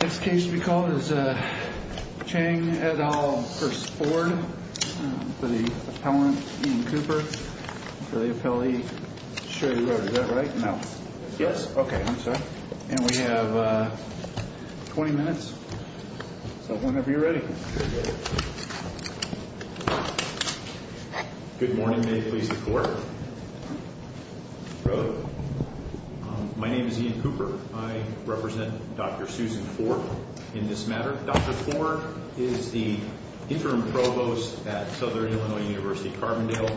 This case to be called is Chang, et al. v. Ford v. the appellant Ian Cooper v. the appellee Sherry Rhoad. Is that right? No. Yes? Okay, I'm sorry. And we have 20 minutes, so whenever you're ready. Good morning. May it please the Court. Rhoad, my name is Ian Cooper. I represent Dr. Susan Ford in this matter. Dr. Ford is the interim provost at Southern Illinois University Carbondale.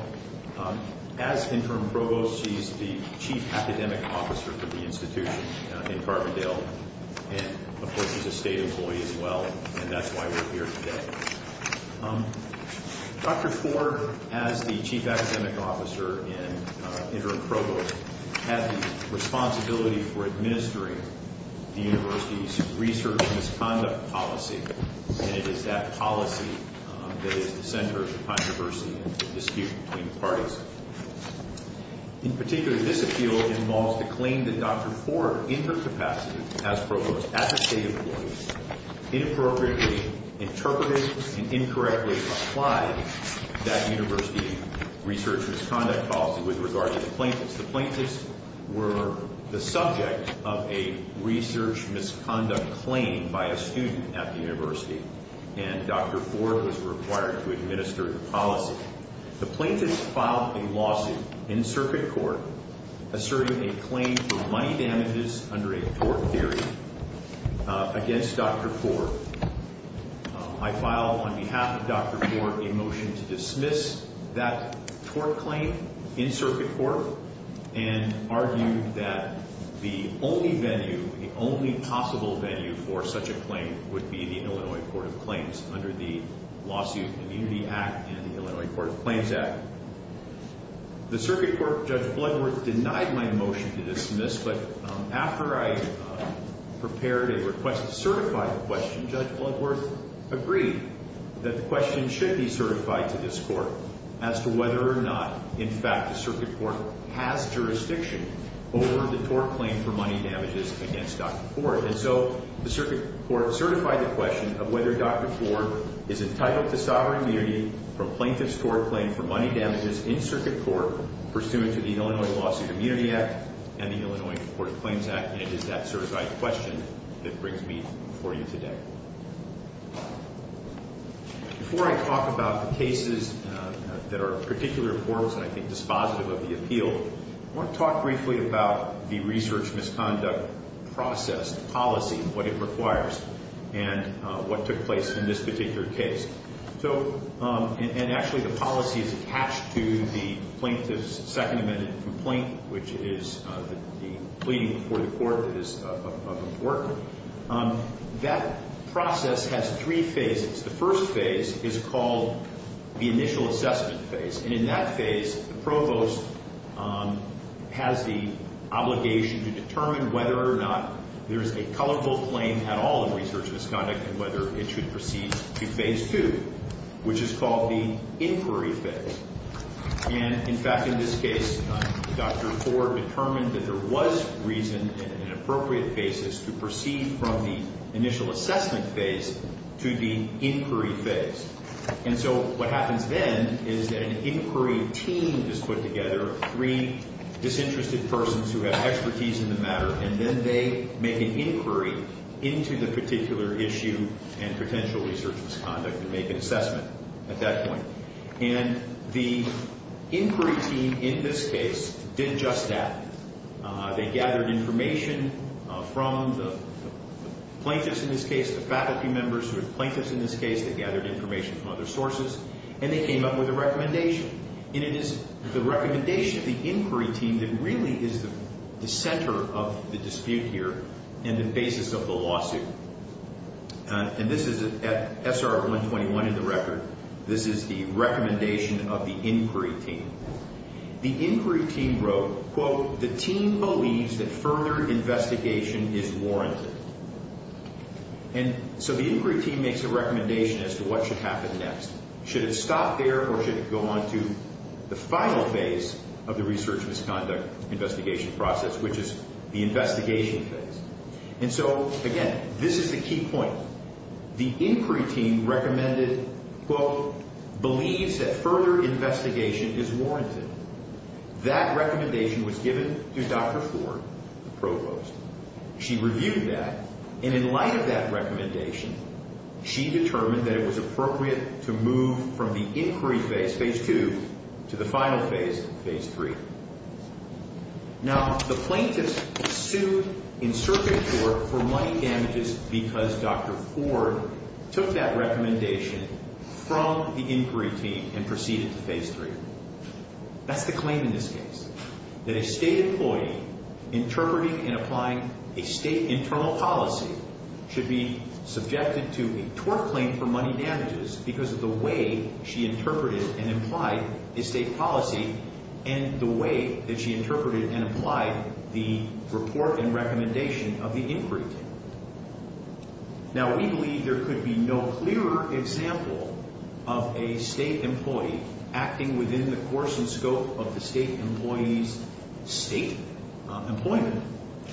As interim provost, she's the chief academic officer for the institution in Carbondale, and of course, she's a state employee as well, and that's why we're here today. Dr. Ford, as the chief academic officer and interim provost, has the responsibility for administering the university's research misconduct policy, and it is that policy that is the center of the controversy and the dispute between the parties. In particular, this appeal involves the claim that Dr. Ford, in her capacity as provost at the state employees, inappropriately interpreted and incorrectly applied that university research misconduct policy with regard to the plaintiffs. The plaintiffs were the subject of a research misconduct claim by a student at the university, and Dr. Ford was required to administer the policy. The plaintiffs filed a lawsuit in circuit court asserting a claim for money damages under a tort theory against Dr. Ford. I filed on behalf of Dr. Ford a motion to dismiss that tort claim in circuit court and argued that the only venue, the only possible venue for such a claim would be the Illinois Court of Claims under the Lawsuit Community Act and the Illinois Court of Claims Act. The circuit court, Judge Bloodworth, denied my motion to dismiss, but after I prepared a request to certify the question, Judge Bloodworth agreed that the question should be certified to this court as to whether or not, in fact, the circuit court has jurisdiction over the tort claim for money damages against Dr. Ford. And so the circuit court certified the question of whether Dr. Ford is entitled to sovereign immunity from plaintiff's tort claim for money damages in circuit court pursuant to the Illinois Lawsuit Community Act and the Illinois Court of Claims Act, and it is that certified question that brings me before you today. Before I talk about the cases that are particularly important and I think dispositive of the appeal, I want to talk briefly about the research misconduct process policy and what it requires and what took place in this particular case. So, and actually the policy is attached to the plaintiff's second amended complaint, which is the pleading before the court that is of importance. However, that process has three phases. The first phase is called the initial assessment phase, and in that phase, the provost has the obligation to determine whether or not there is a colorful claim at all in research misconduct and whether it should proceed to phase two, which is called the inquiry phase. And in fact, in this case, Dr. Ford determined that there was reason and an appropriate basis to proceed from the initial assessment phase to the inquiry phase. And so what happens then is that an inquiry team is put together, three disinterested persons who have expertise in the matter, and then they make an inquiry into the particular issue and potential research misconduct and make an assessment at that point. And the inquiry team in this case did just that. They gathered information from the plaintiffs in this case, the faculty members who are plaintiffs in this case, they gathered information from other sources, and they came up with a recommendation. And it is the recommendation of the inquiry team that really is the center of the dispute here and the basis of the lawsuit. And this is at SR 121 in the record. This is the recommendation of the inquiry team. The inquiry team wrote, quote, the team believes that further investigation is warranted. And so the inquiry team makes a recommendation as to what should happen next. Should it stop there or should it go on to the final phase of the research misconduct investigation process, which is the investigation phase? And so, again, this is the key point. The inquiry team recommended, quote, believes that further investigation is warranted. That recommendation was given to Dr. Ford, the provost. She reviewed that, and in light of that recommendation, she determined that it was appropriate to move from the inquiry phase, phase two, to the final phase, phase three. Now, the plaintiffs sued in circuit court for money damages because Dr. Ford took that recommendation from the inquiry team and proceeded to phase three. That's the claim in this case, that a state employee interpreting and applying a state internal policy should be subjected to a tort claim for money damages because of the way she interpreted and implied a state policy and the way that she interpreted and applied the report and recommendation of the inquiry team. Now, we believe there could be no clearer example of a state employee acting within the course and scope of the state employee's state employment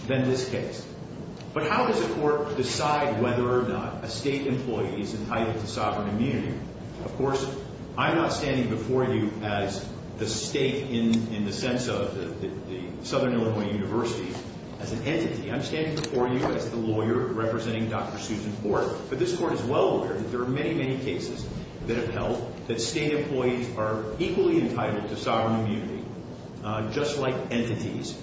than this case. But how does a court decide whether or not a state employee is entitled to sovereign immunity? Of course, I'm not standing before you as the state in the sense of the Southern Illinois University as an entity. I'm standing before you as the lawyer representing Dr. Susan Ford. But this court is well aware that there are many, many cases that have held that state employees are equally entitled to sovereign immunity, just like entities,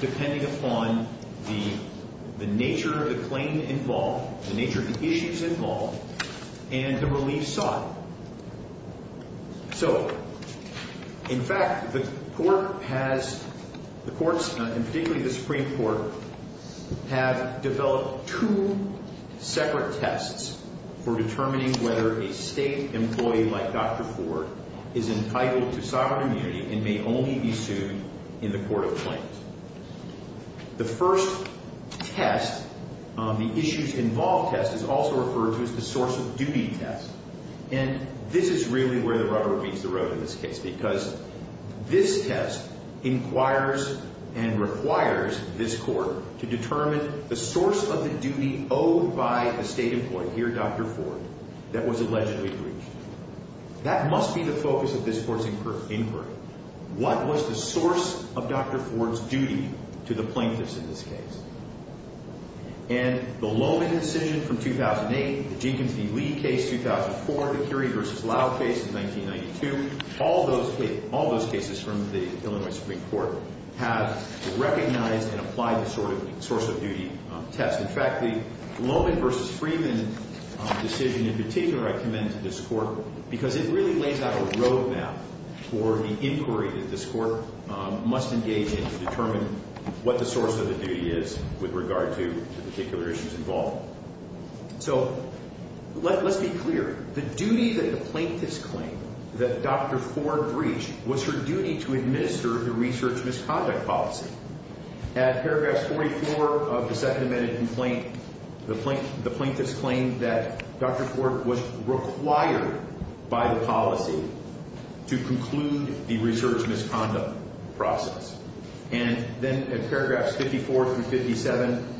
depending upon the nature of the claim involved, the nature of the issues involved, and the relief sought. So, in fact, the courts, and particularly the Supreme Court, have developed two separate tests for determining whether a state employee like Dr. Ford is entitled to sovereign immunity and may only be sued in the court of claims. The first test, the issues involved test, is also referred to as the source of duty test. And this is really where the rubber meets the road in this case because this test inquires and requires this court to determine the source of the duty owed by a state employee, here Dr. Ford, that was allegedly breached. That must be the focus of this court's inquiry. What was the source of Dr. Ford's duty to the plaintiffs in this case? And the Loman decision from 2008, the Jenkins v. Lee case 2004, the Curie v. Lau case in 1992, all those cases from the Illinois Supreme Court have recognized and applied this sort of source of duty test. In fact, the Loman v. Freeman decision in particular I commend to this court because it really lays out a road map for the inquiry that this court must engage in to determine what the source of the duty is with regard to the particular issues involved. So let's be clear. The duty that the plaintiffs claim that Dr. Ford breached was her duty to administer the research misconduct policy. At paragraph 44 of the Second Amendment complaint, the plaintiffs claimed that Dr. Ford was required by the policy to conclude the research misconduct process. And then at paragraphs 54 through 57,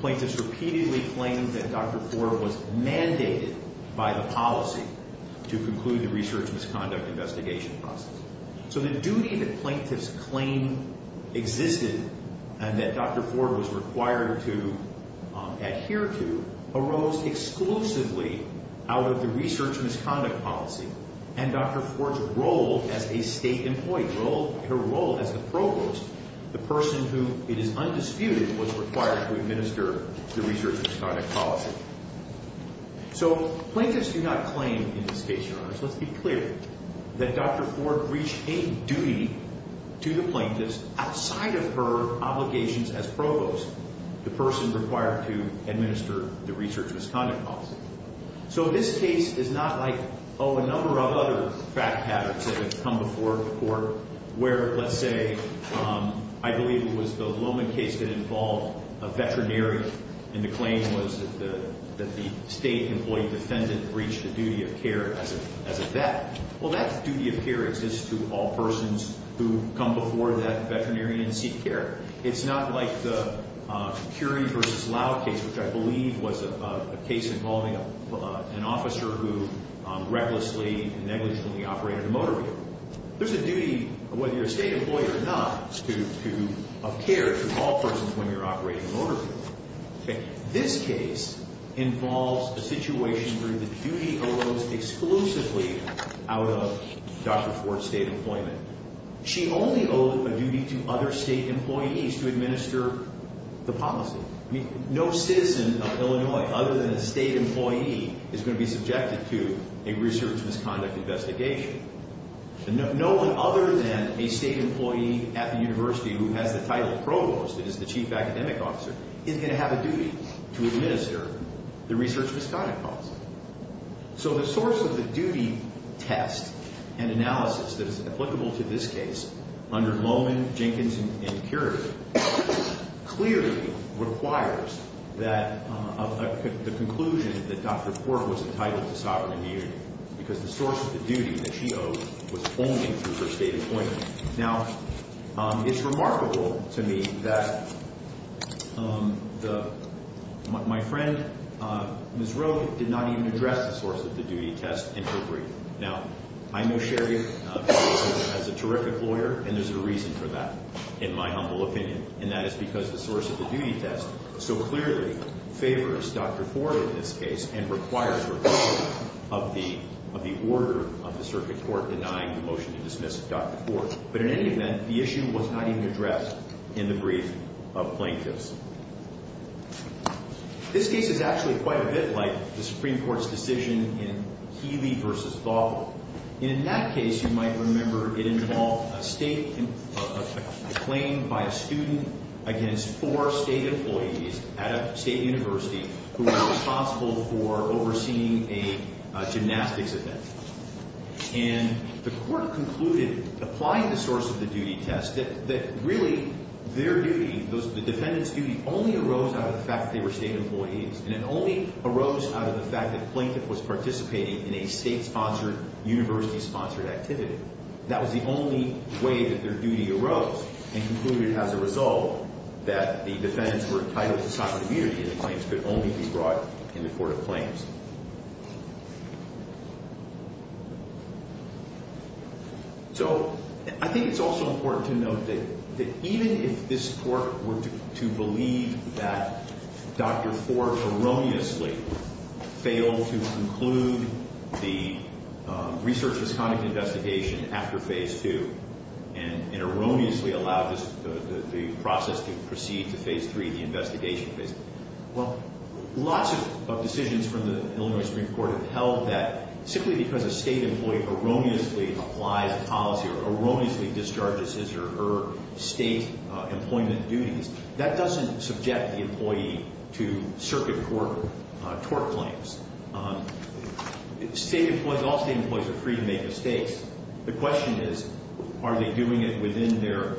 plaintiffs repeatedly claimed that Dr. Ford was mandated by the policy to conclude the research misconduct investigation process. So the duty that plaintiffs claim existed and that Dr. Ford was required to adhere to arose exclusively out of the research misconduct policy. And Dr. Ford's role as a state employee, her role as the provost, the person who it is undisputed was required to administer the research misconduct policy. So plaintiffs do not claim in this case, Your Honors, let's be clear, that Dr. Ford breached a duty to the plaintiffs outside of her obligations as provost, the person required to administer the research misconduct policy. So this case is not like, oh, a number of other fact patterns that have come before the court where, let's say, I believe it was the Lohman case that involved a veterinarian. And the claim was that the state employee defendant breached the duty of care as a vet. Well, that duty of care exists to all persons who come before that veterinarian and seek care. It's not like the Curie v. Lau case, which I believe was a case involving an officer who recklessly and negligently operated a motor vehicle. There's a duty, whether you're a state employee or not, of care to all persons when you're operating a motor vehicle. This case involves a situation where the duty arose exclusively out of Dr. Ford's state employment. She only owed a duty to other state employees to administer the policy. I mean, no citizen of Illinois other than a state employee is going to be subjected to a research misconduct investigation. And no one other than a state employee at the university who has the title of provost, that is the chief academic officer, is going to have a duty to administer the research misconduct policy. So the source of the duty test and analysis that is applicable to this case, under Lohman, Jenkins, and Curie, clearly requires the conclusion that Dr. Ford was entitled to sovereign immunity because the source of the duty that she owed was only through her state employment. Now, it's remarkable to me that my friend Ms. Rowe did not even address the source of the duty test in her brief. Now, I know Sherry as a terrific lawyer, and there's a reason for that, in my humble opinion, and that is because the source of the duty test so clearly favors Dr. Ford in this case and requires her to be of the order of the circuit court denying the motion to dismiss Dr. Ford. But in any event, the issue was not even addressed in the brief of plaintiffs. This case is actually quite a bit like the Supreme Court's decision in Healy v. Vaughan. And in that case, you might remember it involved a claim by a student against four state employees at a state university who were responsible for overseeing a gymnastics event. And the court concluded, applying the source of the duty test, that really their duty, the defendant's duty, only arose out of the fact that they were state employees, and it only arose out of the fact that the plaintiff was participating in a state-sponsored, university-sponsored activity. That was the only way that their duty arose and concluded, as a result, that the defendants were entitled to socratic unity and the claims could only be brought in the court of claims. So I think it's also important to note that even if this court were to believe that Dr. Ford erroneously failed to conclude the research misconduct investigation after Phase 2 and erroneously allowed the process to proceed to Phase 3, the investigation of Phase 3, well, lots of decisions from the Illinois Supreme Court have held that simply because a state employee erroneously applies a policy or erroneously discharges his or her state employment duties, that doesn't subject the employee to circuit court tort claims. All state employees are free to make mistakes. The question is, are they doing it within their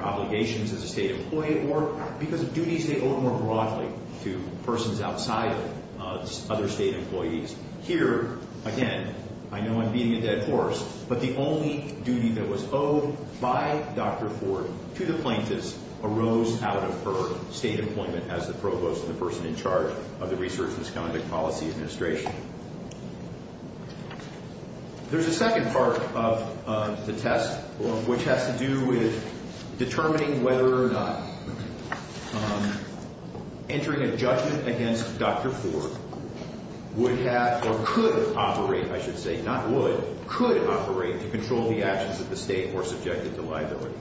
obligations as a state employee, or because of duties they owe more broadly to persons outside of other state employees? Here, again, I know I'm beating a dead horse, but the only duty that was owed by Dr. Ford to the plaintiffs arose out of her state employment as the provost and the person in charge of the Research Misconduct Policy Administration. There's a second part of the test, which has to do with determining whether or not entering a judgment against Dr. Ford would have or could operate, I should say, not would, could operate to control the actions of the state who are subjected to liability.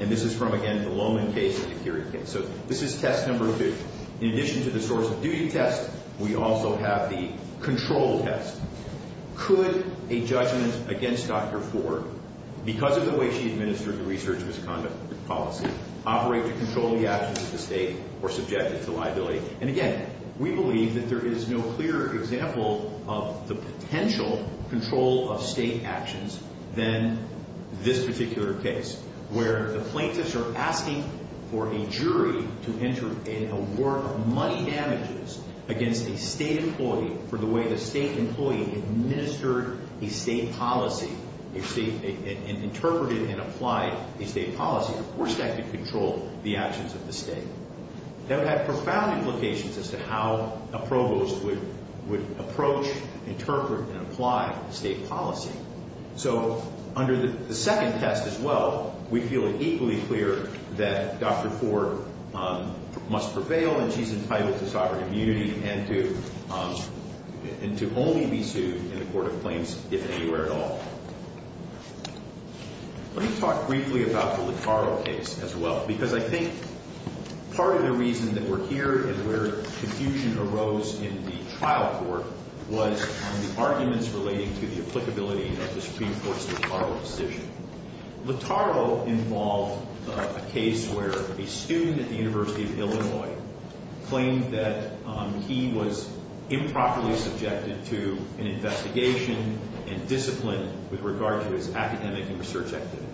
And this is from, again, the Lowman case and the Curie case. So this is test number two. In addition to the source of duty test, we also have the control test. Could a judgment against Dr. Ford, because of the way she administered the Research Misconduct Policy, operate to control the actions of the state who are subjected to liability? And again, we believe that there is no clearer example of the potential control of state actions than this particular case, where the plaintiffs are asking for a jury to enter in a war of money damages against a state employee for the way the state employee administered a state policy, interpreted and applied a state policy, and forced that to control the actions of the state. That would have profound implications as to how a provost would approach, interpret, and apply a state policy. So under the second test as well, we feel it equally clear that Dr. Ford must prevail, and she's entitled to sovereign immunity and to only be sued in a court of claims if anywhere at all. Let me talk briefly about the Lataro case as well, because I think part of the reason that we're here and where confusion arose in the trial court was the arguments relating to the applicability of the Supreme Court's Lataro decision. Lataro involved a case where a student at the University of Illinois claimed that he was improperly subjected to an investigation and discipline with regard to his academic and research activities.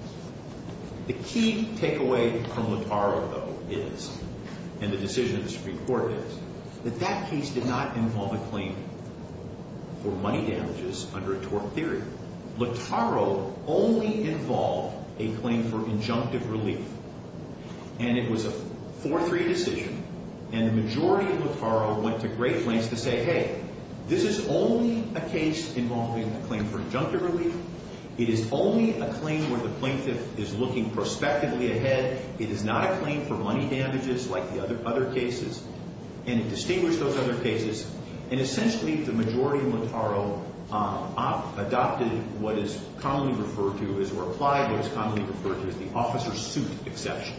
The key takeaway from Lataro, though, is, and the decision of the Supreme Court is, that that case did not involve a claim for money damages under a tort theory. Lataro only involved a claim for injunctive relief, and it was a 4-3 decision, and the majority of Lataro went to great lengths to say, hey, this is only a case involving a claim for injunctive relief. It is only a claim where the plaintiff is looking prospectively ahead. It is not a claim for money damages like the other cases, and it distinguished those other cases, and essentially the majority of Lataro adopted what is commonly referred to as, or applied what is commonly referred to as the officer's suit exception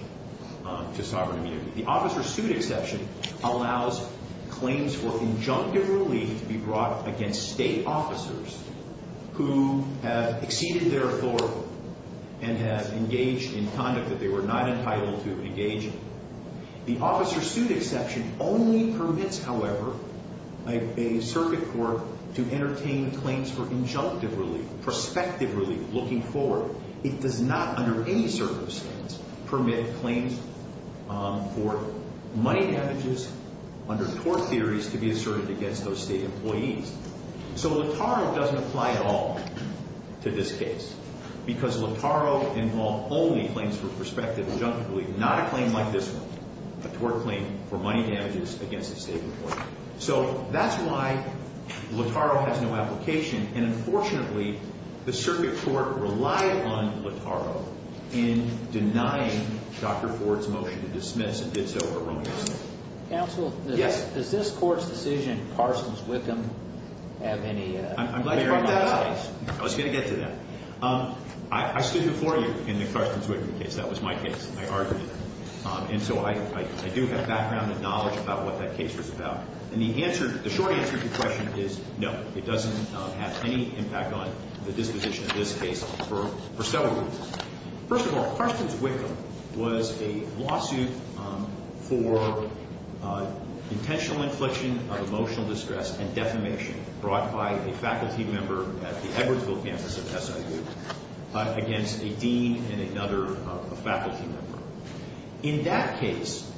to sovereign immunity. The officer's suit exception allows claims for injunctive relief to be brought against state officers who have exceeded their authority and have engaged in conduct that they were not entitled to engage in. The officer's suit exception only permits, however, a circuit court to entertain claims for injunctive relief, prospective relief, looking forward. It does not, under any circumstance, permit claims for money damages under tort theories to be asserted against those state employees. So Lataro doesn't apply at all to this case because Lataro involved only claims for prospective injunctive relief, not a claim like this one, a tort claim for money damages against a state employee. So that's why Lataro has no application, and unfortunately the circuit court relied on Lataro in denying Dr. Ford's motion to dismiss and did so erroneously. Counsel? Yes. Does this Court's decision, Carson's-Wickham, have any... I'm glad you brought that up. I was going to get to that. I stood before you in the Carson's-Wickham case. That was my case. I argued it. And so I do have background and knowledge about what that case was about. And the short answer to your question is no. It doesn't have any impact on the disposition of this case for several reasons. First of all, Carson's-Wickham was a lawsuit for intentional infliction of emotional distress and defamation brought by a faculty member at the Edwardsville campus of SIU against a dean and another faculty member. In that case,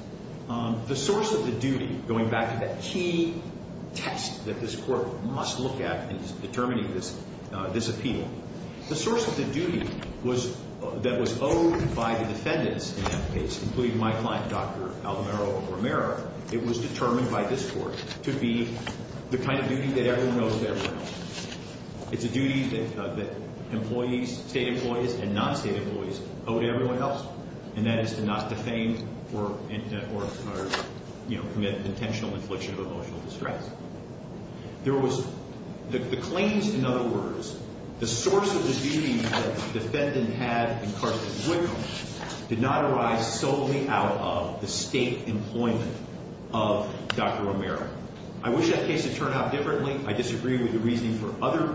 the source of the duty, going back to that key test that this Court must look at in determining this appeal, the source of the duty that was owed by the defendants in that case, including my client, Dr. Alvaro Romero, it was determined by this Court to be the kind of duty that everyone owes to everyone else. It's a duty that employees, state employees and non-state employees, owe to everyone else, and that is to not defame or commit intentional infliction of emotional distress. The claims, in other words, the source of the duty that the defendant had in Carson's-Wickham did not arise solely out of the state employment of Dr. Romero. I wish that case had turned out differently. I disagree with the reasoning for other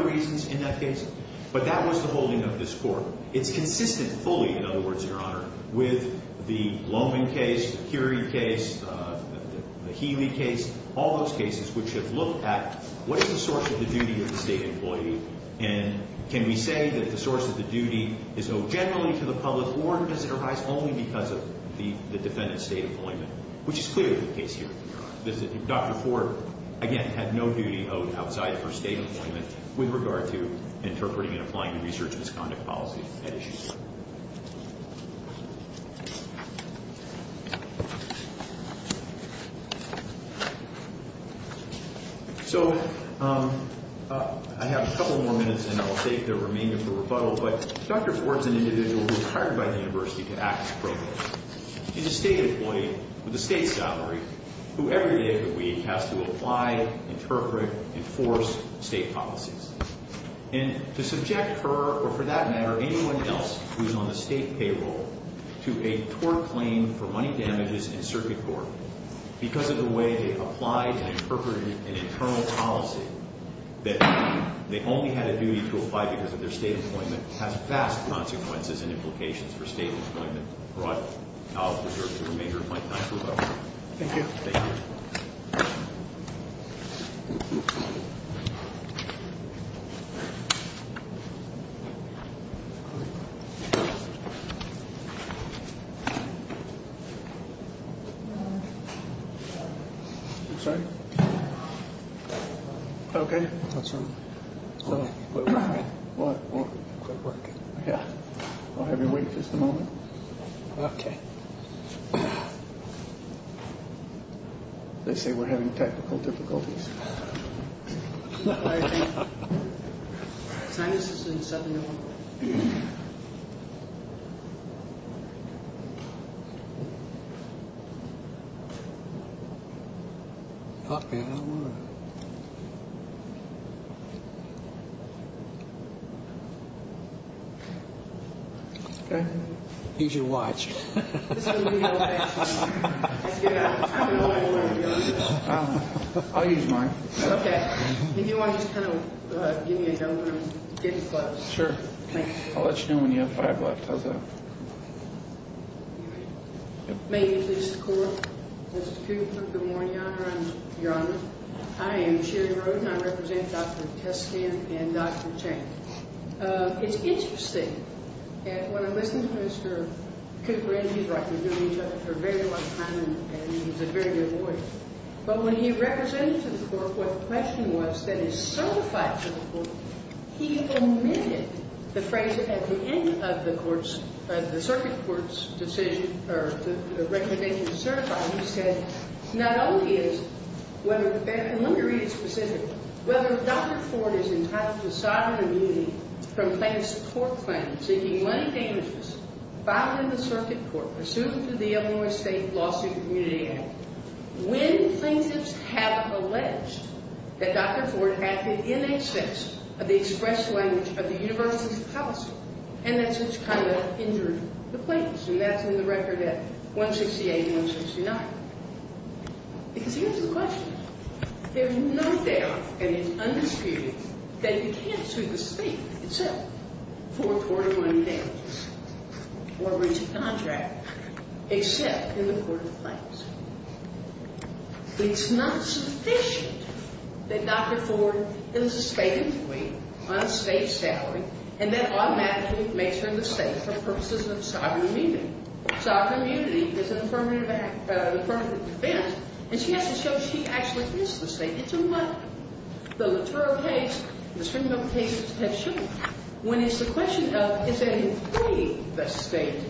reasons in that case. But that was the holding of this Court. It's consistent fully, in other words, Your Honor, with the Lohman case, the Curie case, the Healy case, all those cases which have looked at what is the source of the duty of the state employee, and can we say that the source of the duty is owed generally to the public, or does it arise only because of the defendant's state employment, which is clearly the case here, Your Honor. Dr. Ford, again, had no duty owed outside of her state employment with regard to interpreting and applying the research misconduct policy at issue. So I have a couple more minutes and then I'll take the remainder for rebuttal, but Dr. Ford's an individual who was hired by the University to act as provost. She's a state employee with a state salary who every day of the week has to apply, interpret, enforce state policies. And to subject her, or for that matter, anyone else who's on the state payroll to a tort claim for money damages in circuit court because of the way they applied and interpreted an internal policy that they only had a duty to apply because of their state employment has vast consequences and implications for state employment. I'll reserve the remainder of my time for rebuttal. Thank you. I'll have you wait just a moment. They say we're having technical difficulties. Okay. Use your watch. I'll use mine. Okay. If you want to just kind of give me a number and get me close. Sure. I'll let you know when you have five left. How's that? May I introduce the court? Mr. Cooper. Good morning, Your Honor. Your Honor. I am Sherry Roden. I represent Dr. Testan and Dr. Chang. It's interesting. And when I listen to Mr. Cooper, and he's right. We've known each other for a very long time, and he's a very good lawyer. But when he represented to the court what the question was that is certified to the court, he omitted the phrase at the end of the circuit court's decision or the recommendation to certify. He said, not only is, and let me read it specifically. Whether Dr. Ford is entitled to sovereign immunity from plaintiff's court claim, seeking money damages, filed in the circuit court, pursuant to the Illinois State Lawsuit and Community Act, when plaintiffs have alleged that Dr. Ford acted in excess of the express language of the university's policy, and that's which kind of injured the plaintiffs. And that's in the record at 168 and 169. Because here's the question. There's no doubt, and it's undisputed, that you can't sue the state itself for court of money damages or breach of contract except in the court of claims. It's not sufficient that Dr. Ford is a state employee on a state salary, and that automatically makes her the state for purposes of sovereign immunity. Sovereign immunity is an affirmative act, an affirmative defense, and she has to show she actually is the state. It's a one. The Latour case and the Stringham case have shown that. When it's the question of is an employee the state,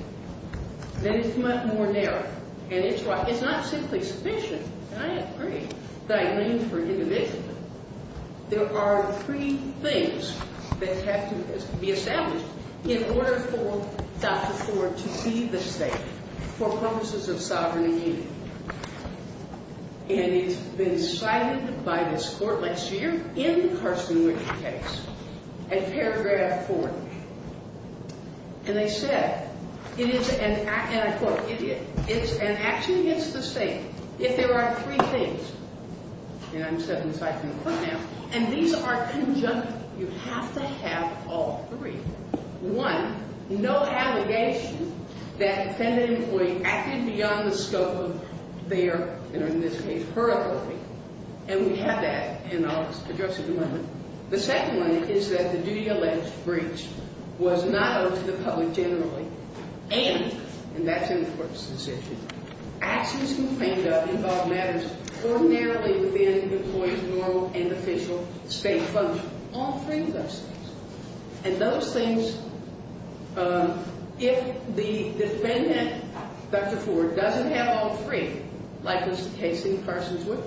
then it's much more narrow. And it's why it's not simply sufficient, and I agree, that I mean for individuals. There are three things that have to be established in order for Dr. Ford to be the state for purposes of sovereign immunity. And it's been cited by this court last year in the Carson-Wick case, in paragraph four. And they said, and I quote, And actually it's the same. If there are three things, and I'm citing them right now, and these are conjunct, you have to have all three. One, no allegation that defendant employee acted beyond the scope of their, in this case, her authority. And we have that in our address at the moment. The second one is that the duty-alleged breach was not owed to the public generally and, and that's in the court's decision, actions complained of involved matters ordinarily within the employee's normal and official state function. All three of those things. And those things, if the defendant, Dr. Ford, doesn't have all three, like was the case in Carson-Wick,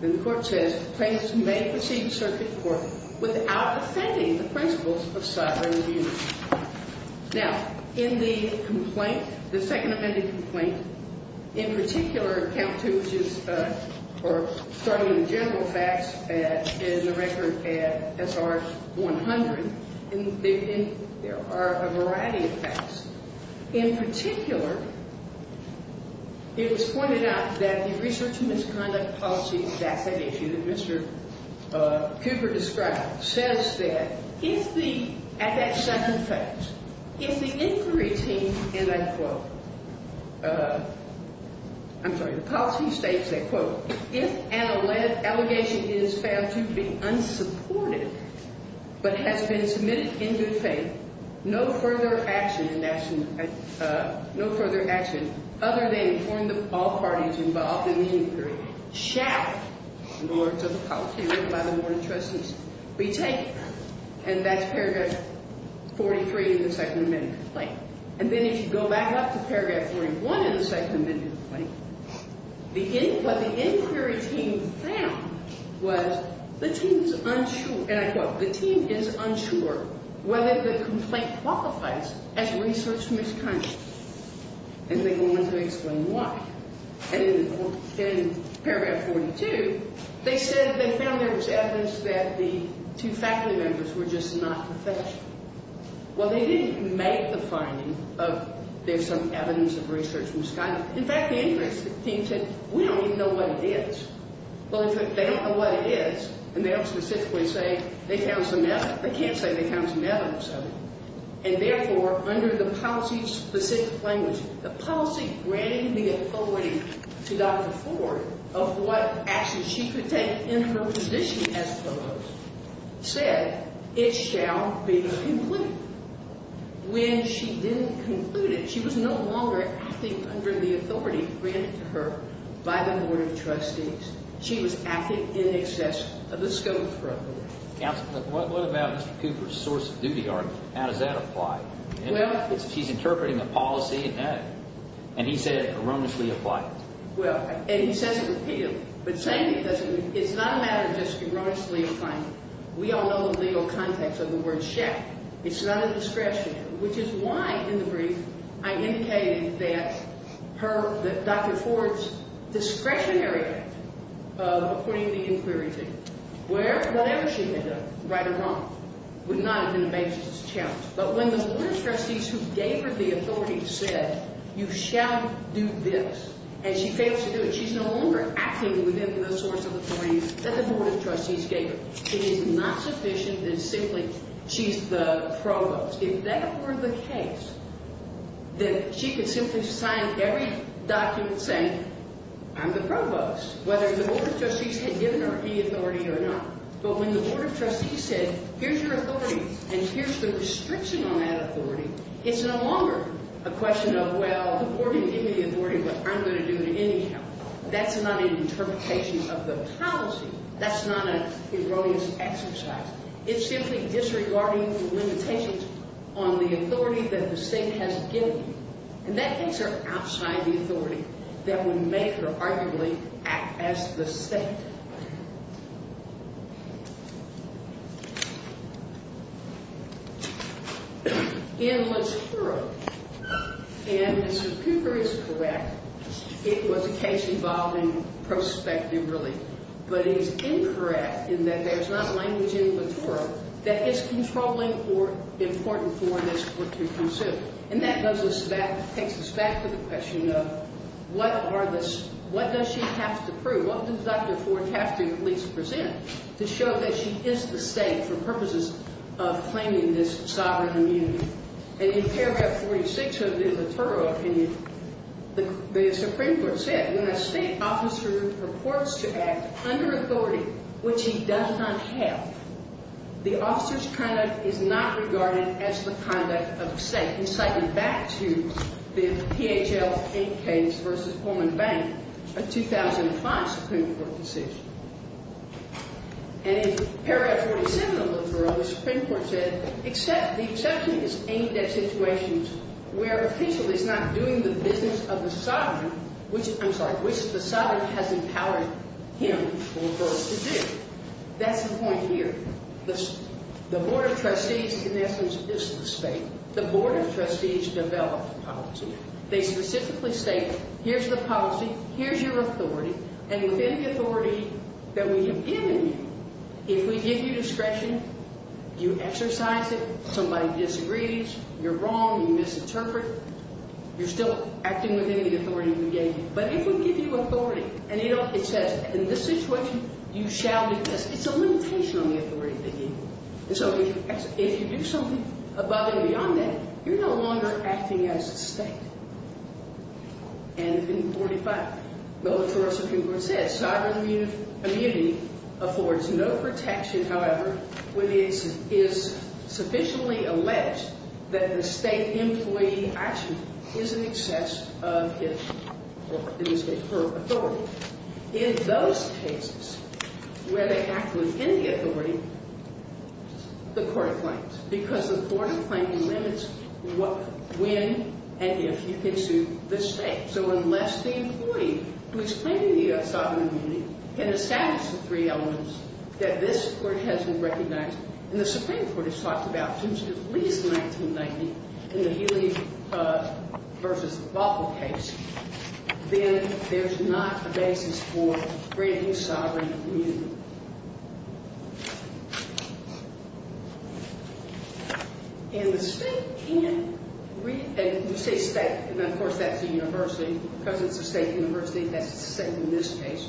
then the court says the plaintiff may proceed to circuit court without offending the principles of sovereign immunity. Now, in the complaint, the second amended complaint, in particular, count two, which is, or starting with the general facts, is the record at SR 100. And there are a variety of facts. In particular, it was pointed out that the research and misconduct policy, that's an issue that Mr. Cooper described, says that if the, at that second fact, if the inquiry team, and I quote, I'm sorry, the policy states that, quote, if an allegation is found to be unsupported but has been submitted in good faith, no further action, no further action, other than informing all parties involved in the inquiry, shall, in the words of the policy written by the board of trustees, be taken. And that's paragraph 43 in the second amended complaint. And then if you go back up to paragraph 41 in the second amended complaint, what the inquiry team found was the team's unsure, and I quote, the team is unsure whether the complaint qualifies as research misconduct. And they go on to explain why. And then in paragraph 42, they said they found there was evidence that the two faculty members were just not professional. Well, they didn't make the finding of there's some evidence of research misconduct. In fact, the inquiry team said, we don't even know what it is. Well, in fact, they don't know what it is, and they'll specifically say they found some evidence. They can't say they found some evidence of it. And therefore, under the policy's specific language, the policy granting the authority to Dr. Ford of what action she could take in her position as Provost said, it shall be completed. When she didn't conclude it, she was no longer acting under the authority granted to her by the board of trustees. She was acting in excess of the scope for approval. Counsel, what about Mr. Cooper's source of duty argument? How does that apply? He's interpreting the policy, and he said it erroneously applied. Well, and he says it repealed. But the same thing doesn't mean it's not a matter of just erroneously applying it. We all know the legal context of the word shack. It's not a discretionary, which is why in the brief I indicated that Dr. Ford's discretionary of putting the inquiry team where whatever she had done, right or wrong, would not have been the basis of this challenge. But when the board of trustees who gave her the authority said, you shall do this, and she fails to do it, she's no longer acting within the source of authority that the board of trustees gave her. It is not sufficient that simply she's the provost. If that were the case, then she could simply sign every document saying, I'm the provost, whether the board of trustees had given her any authority or not. But when the board of trustees said, here's your authority, and here's the restriction on that authority, it's no longer a question of, well, the board didn't give me the authority, but I'm going to do it anyhow. That's not an interpretation of the policy. That's not an erroneous exercise. It's simply disregarding the limitations on the authority that the state has given you. And that things are outside the authority that would make her arguably act as the state. In Latoura, and Mr. Cooper is correct, it was a case involving prospective relief. But it is incorrect in that there's not language in Latoura that is controlling or important for this court to pursue. And that takes us back to the question of, what does she have to prove? What does Dr. Ford have to at least present to show that she is the state for purposes of claiming this sovereign immunity? And in paragraph 46 of Latoura opinion, the Supreme Court said, when a state officer purports to act under authority which he does not have, the officer's conduct is not regarded as the conduct of the state, inciting back to the PHL 8 case versus Pullman Bank, a 2005 Supreme Court decision. And in paragraph 47 of Latoura, the Supreme Court said, the exception is aimed at situations where the official is not doing the business of the sovereign, which the sovereign has empowered him or her to do. That's the point here. The Board of Trustees, in essence, is the state. The Board of Trustees develop policy. They specifically state, here's the policy, here's your authority, and within the authority that we have given you, if we give you discretion, you exercise it, somebody disagrees, you're wrong, you misinterpret, you're still acting within the authority we gave you. But if we give you authority and it says, in this situation, you shall be tested, it's a limitation on the authority that you give. And so if you do something above and beyond that, you're no longer acting as a state. And in 45 of Latoura, Supreme Court said, sovereign immunity affords no protection, however, when it is sufficiently alleged that the state employee actually is in excess of his or her authority. In those cases where they act within the authority, the Court of Claims. Because the Court of Claims limits when and if you can sue the state. So unless the employee who is claiming the sovereign immunity can establish the three elements that this Court has recognized, and the Supreme Court has talked about since at least 1990 in the Healy versus Bothell case, then there's not a basis for granting sovereign immunity. And the state can't read, and you say state, and of course that's a university, because it's a state university, that's the state in this case.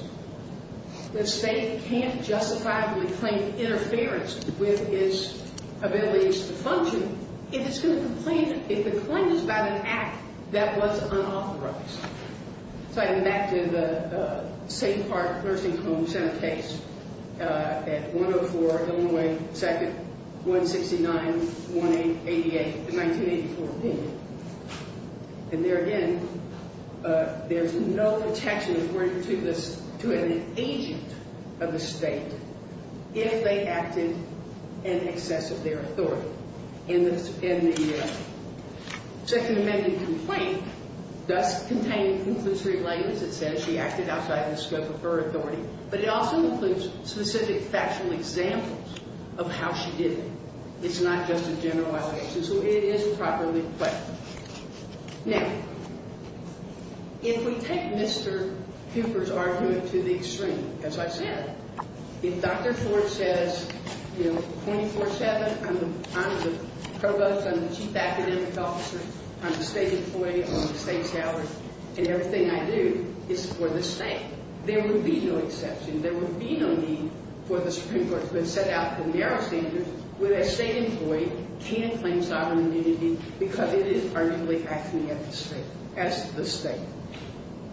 The state can't justifiably claim interference with its ability to function if it's going to complain, if the claim is about an act that was unauthorized. So I go back to the St. Park Nursing Home Center case at 104 Illinois 2nd, 169-188, the 1984 opinion. And there again, there's no protection according to this, to an agent of the state if they acted in excess of their authority in the second amendment complaint, thus containing inclusory language that says she acted outside the scope of her authority, but it also includes specific factual examples of how she did it. It's not just a general violation, so it is properly questioned. Now, if we take Mr. Cooper's argument to the extreme, as I said, if Dr. Ford says, you know, 24-7, I'm the provost, I'm the chief academic officer, I'm the state employee, I'm the state salary, and everything I do is for the state, there would be no exception, there would be no need for the Supreme Court to have set out the narrow standards where the state employee can claim sovereign immunity because it is arguably acting as the state.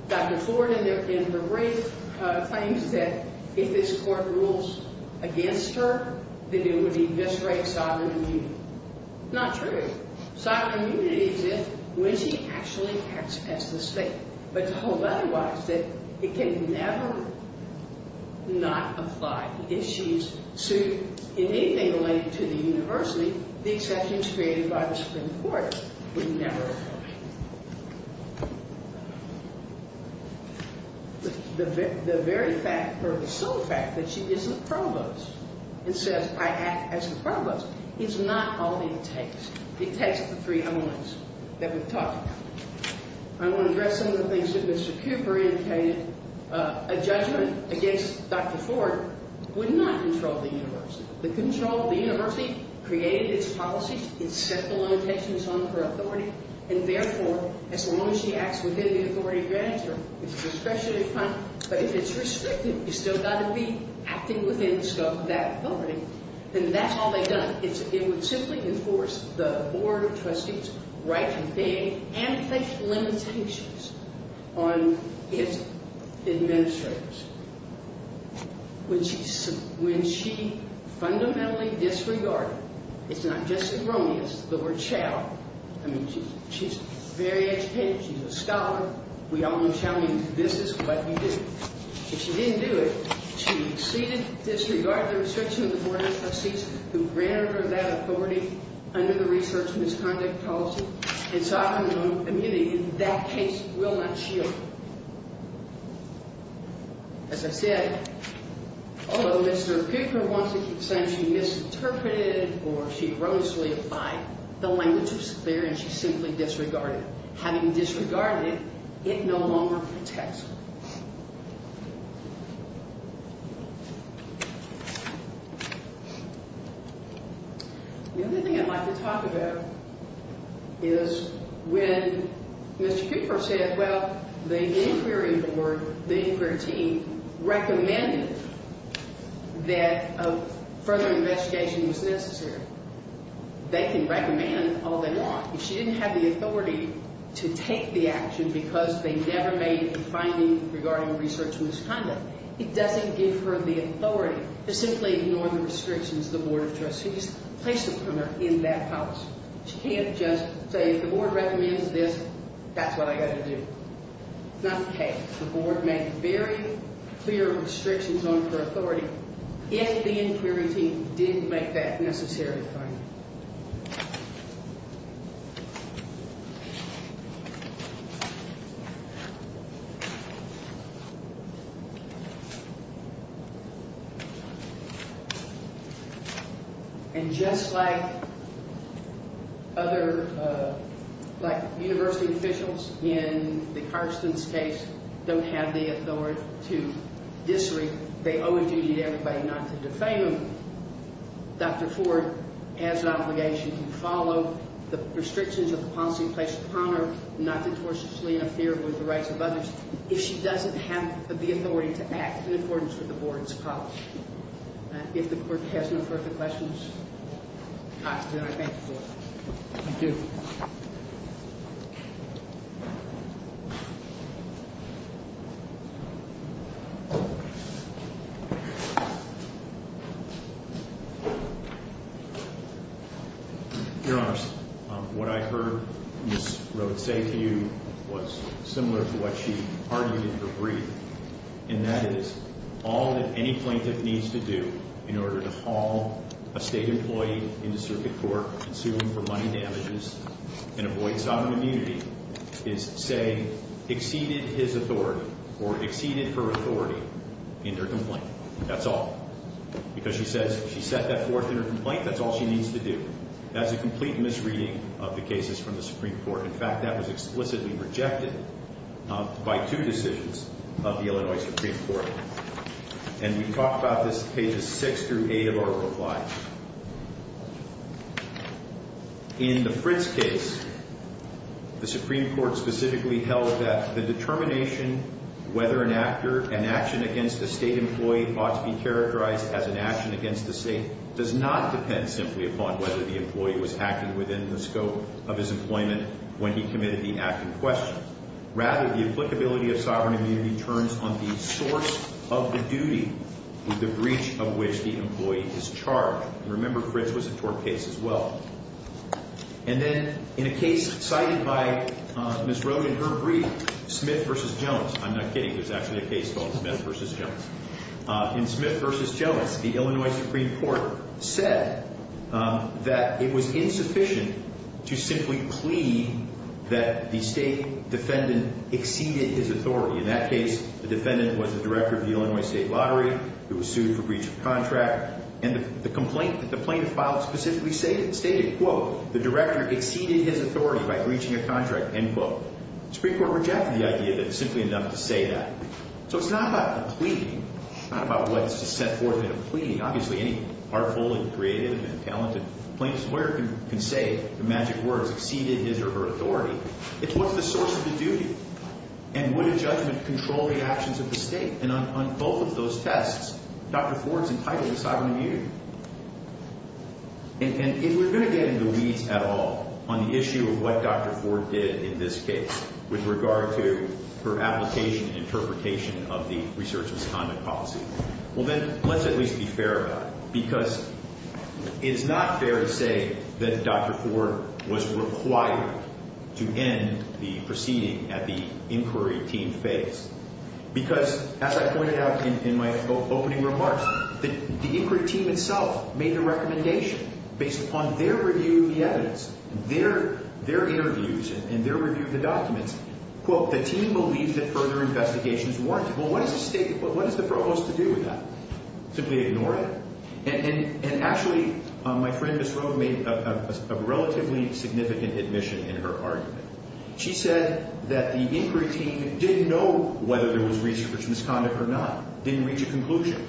Dr. Ford, in her brief, claims that if this court rules against her, that it would eviscerate sovereign immunity. Not true. Sovereign immunity exists when she actually acts as the state. But to hold otherwise, that it can never not apply. If she is sued in anything related to the university, the exceptions created by the Supreme Court would never apply. The very fact or the sole fact that she is the provost and says, I act as the provost, is not all it takes. It takes the three elements that we've talked about. I want to address some of the things that Mr. Cooper indicated. A judgment against Dr. Ford would not control the university. The control of the university created its policies, it set the limitations on her authority, and therefore, as long as she acts within the authority granted to her, it's discretionary, but if it's restrictive, you still got to be acting within the scope of that authority, then that's all they've done. It would simply enforce the Board of Trustees' right to pay and to face limitations on its administrators. When she fundamentally disregarded, it's not just erroneous, the word child, I mean, she's very educated, she's a scholar, we all know child means this is what you do. If she didn't do it, she exceeded, disregarded the restriction of the Board of Trustees who granted her that authority under the research misconduct policy, and so I'm going to ammunity that case will not shield her. As I said, although Mr. Cooper wants to keep saying she misinterpreted or she erroneously applied, the language was clear and she simply disregarded it. Having disregarded it, it no longer protects her. The other thing I'd like to talk about is when Mr. Cooper said, well, the inquiry board, the inquiry team recommended that a further investigation was necessary. They can recommend all they want. If she didn't have the authority to take the action because they never made a finding regarding research misconduct, it doesn't give her the authority to simply ignore the restrictions the Board of Trustees placed upon her in that house. She can't just say, if the Board recommends this, that's what I got to do. Not the case. The Board made very clear restrictions on her authority, yet the inquiry team didn't make that necessary finding. And just like university officials in the Carstens case don't have the authority to disagree, they owe a duty to everybody not to defame them. Dr. Ford has an obligation to follow the restrictions of the policy placed upon her not to tortiously interfere with the rights of others if she doesn't have the authority to act in accordance with the Board's policy. If the Court has no further questions, then I thank you for that. Thank you. Your Honor, what I heard Ms. Rhodes say to you was similar to what she argued in her brief, and that is, all that any plaintiff needs to do in order to haul a state employee into circuit court, sue him for money damages, and avoid sovereign immunity, is say, exceeded his authority or exceeded her authority in her complaint. That's all. Because she says, she set that forth in her complaint, that's all she needs to do. That's a complete misreading of the cases from the Supreme Court. In fact, that was explicitly rejected by two decisions of the Illinois Supreme Court. And we talk about this pages 6 through 8 of our reply. In the Fritz case, the Supreme Court specifically held that the determination whether an action against a state employee ought to be characterized as an action against the state does not depend simply upon whether the employee was acted within the scope of his employment when he committed the act in question. Rather, the applicability of sovereign immunity turns on the source of the duty with the breach of which the employee is charged. Remember, Fritz was a tort case as well. And then, in a case cited by Ms. Rhodes in her brief, Smith v. Jones, I'm not kidding, there's actually a case called Smith v. Jones. In Smith v. Jones, the Illinois Supreme Court said that it was insufficient to simply plead that the state defendant exceeded his authority. In that case, the defendant was the director of the Illinois State Lottery who was sued for breach of contract. And the complaint that the plaintiff filed specifically stated, quote, the director exceeded his authority by breaching a contract, end quote. The Supreme Court rejected the idea that it's simply enough to say that. So it's not about a plea. It's not about what's set forth in a plea. Obviously, any artful and creative and talented plaintiff's lawyer can say the magic words, exceeded his or her authority. It's what's the source of the duty. And would a judgment control the actions of the state? And on both of those tests, Dr. Ford's entitled to sovereign immunity. And if we're going to get in the weeds at all on the issue of what Dr. Ford did in this case with regard to her application and interpretation of the research misconduct policy, well then, let's at least be fair about it. Because it is not fair to say that Dr. Ford was required to end the proceeding at the inquiry team phase. Because, as I pointed out in my opening remarks, the inquiry team itself made the recommendation based upon their review of the evidence, their interviews, and their review of the documents, quote, the team believes that further investigation is warranted. Well, what does the state, what does the provost have to do with that? Simply ignore it. And actually, my friend Ms. Roe made a relatively significant admission in her argument. She said that the inquiry team didn't know whether there was research misconduct or not, didn't reach a conclusion.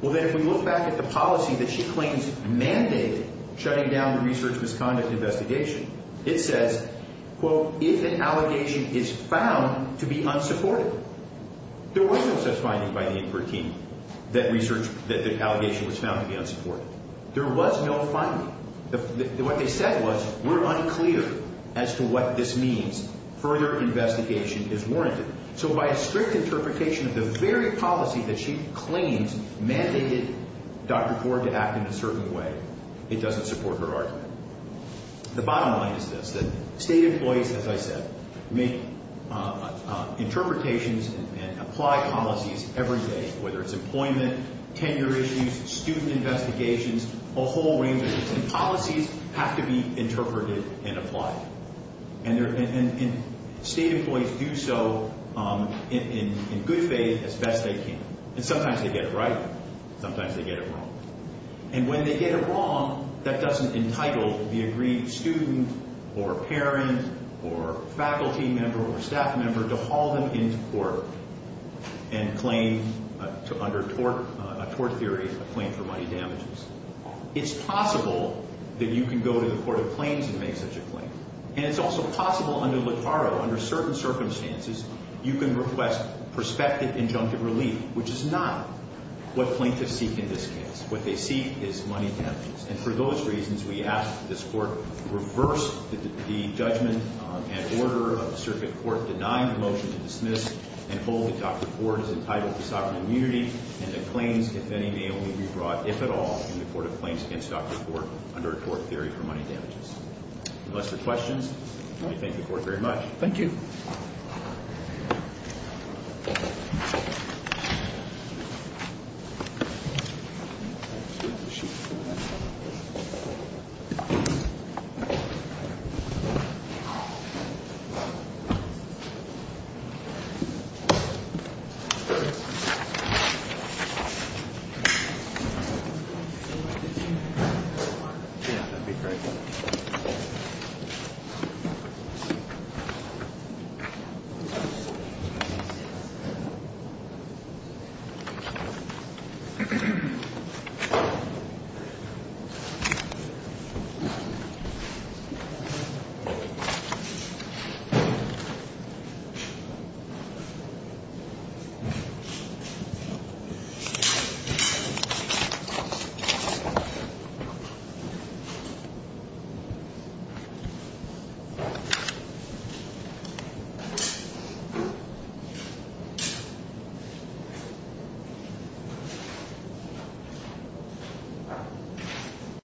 Well then, if we look back at the policy that she claims mandated shutting down the research misconduct investigation, it says, quote, if an allegation is found to be unsupportive, there was no such finding by the inquiry team that research, that the allegation was found to be unsupportive. There was no finding. What they said was, we're unclear as to what this means. Further investigation is warranted. So by a strict interpretation of the very policy that she claims mandated Dr. Ford to act in a certain way, it doesn't support her argument. The bottom line is this, that state employees, as I said, make interpretations and apply policies every day, whether it's employment, tenure issues, student investigations, a whole range of issues. And policies have to be interpreted and applied. And state employees do so in good faith as best they can. And sometimes they get it right, sometimes they get it wrong. And when they get it wrong, that doesn't entitle the agreed student or parent or faculty member or staff member to haul them into court and claim, under a tort theory, a claim for money damages. It's possible that you can go to the court of claims and make such a claim. And it's also possible under Littaro, under certain circumstances, you can request prospective injunctive relief, which is not what plaintiffs seek in this case. What they seek is money damages. And for those reasons, we ask that this court reverse the judgment and order of the circuit court denying the motion to dismiss and hold that Dr. Ford is entitled to sovereign immunity and that claims, if any, may only be brought, if at all, in the court of claims against Dr. Ford under a tort theory for money damages. Unless there are questions, I thank the court very much. Thank you. Thank you. Thank you. Thank you.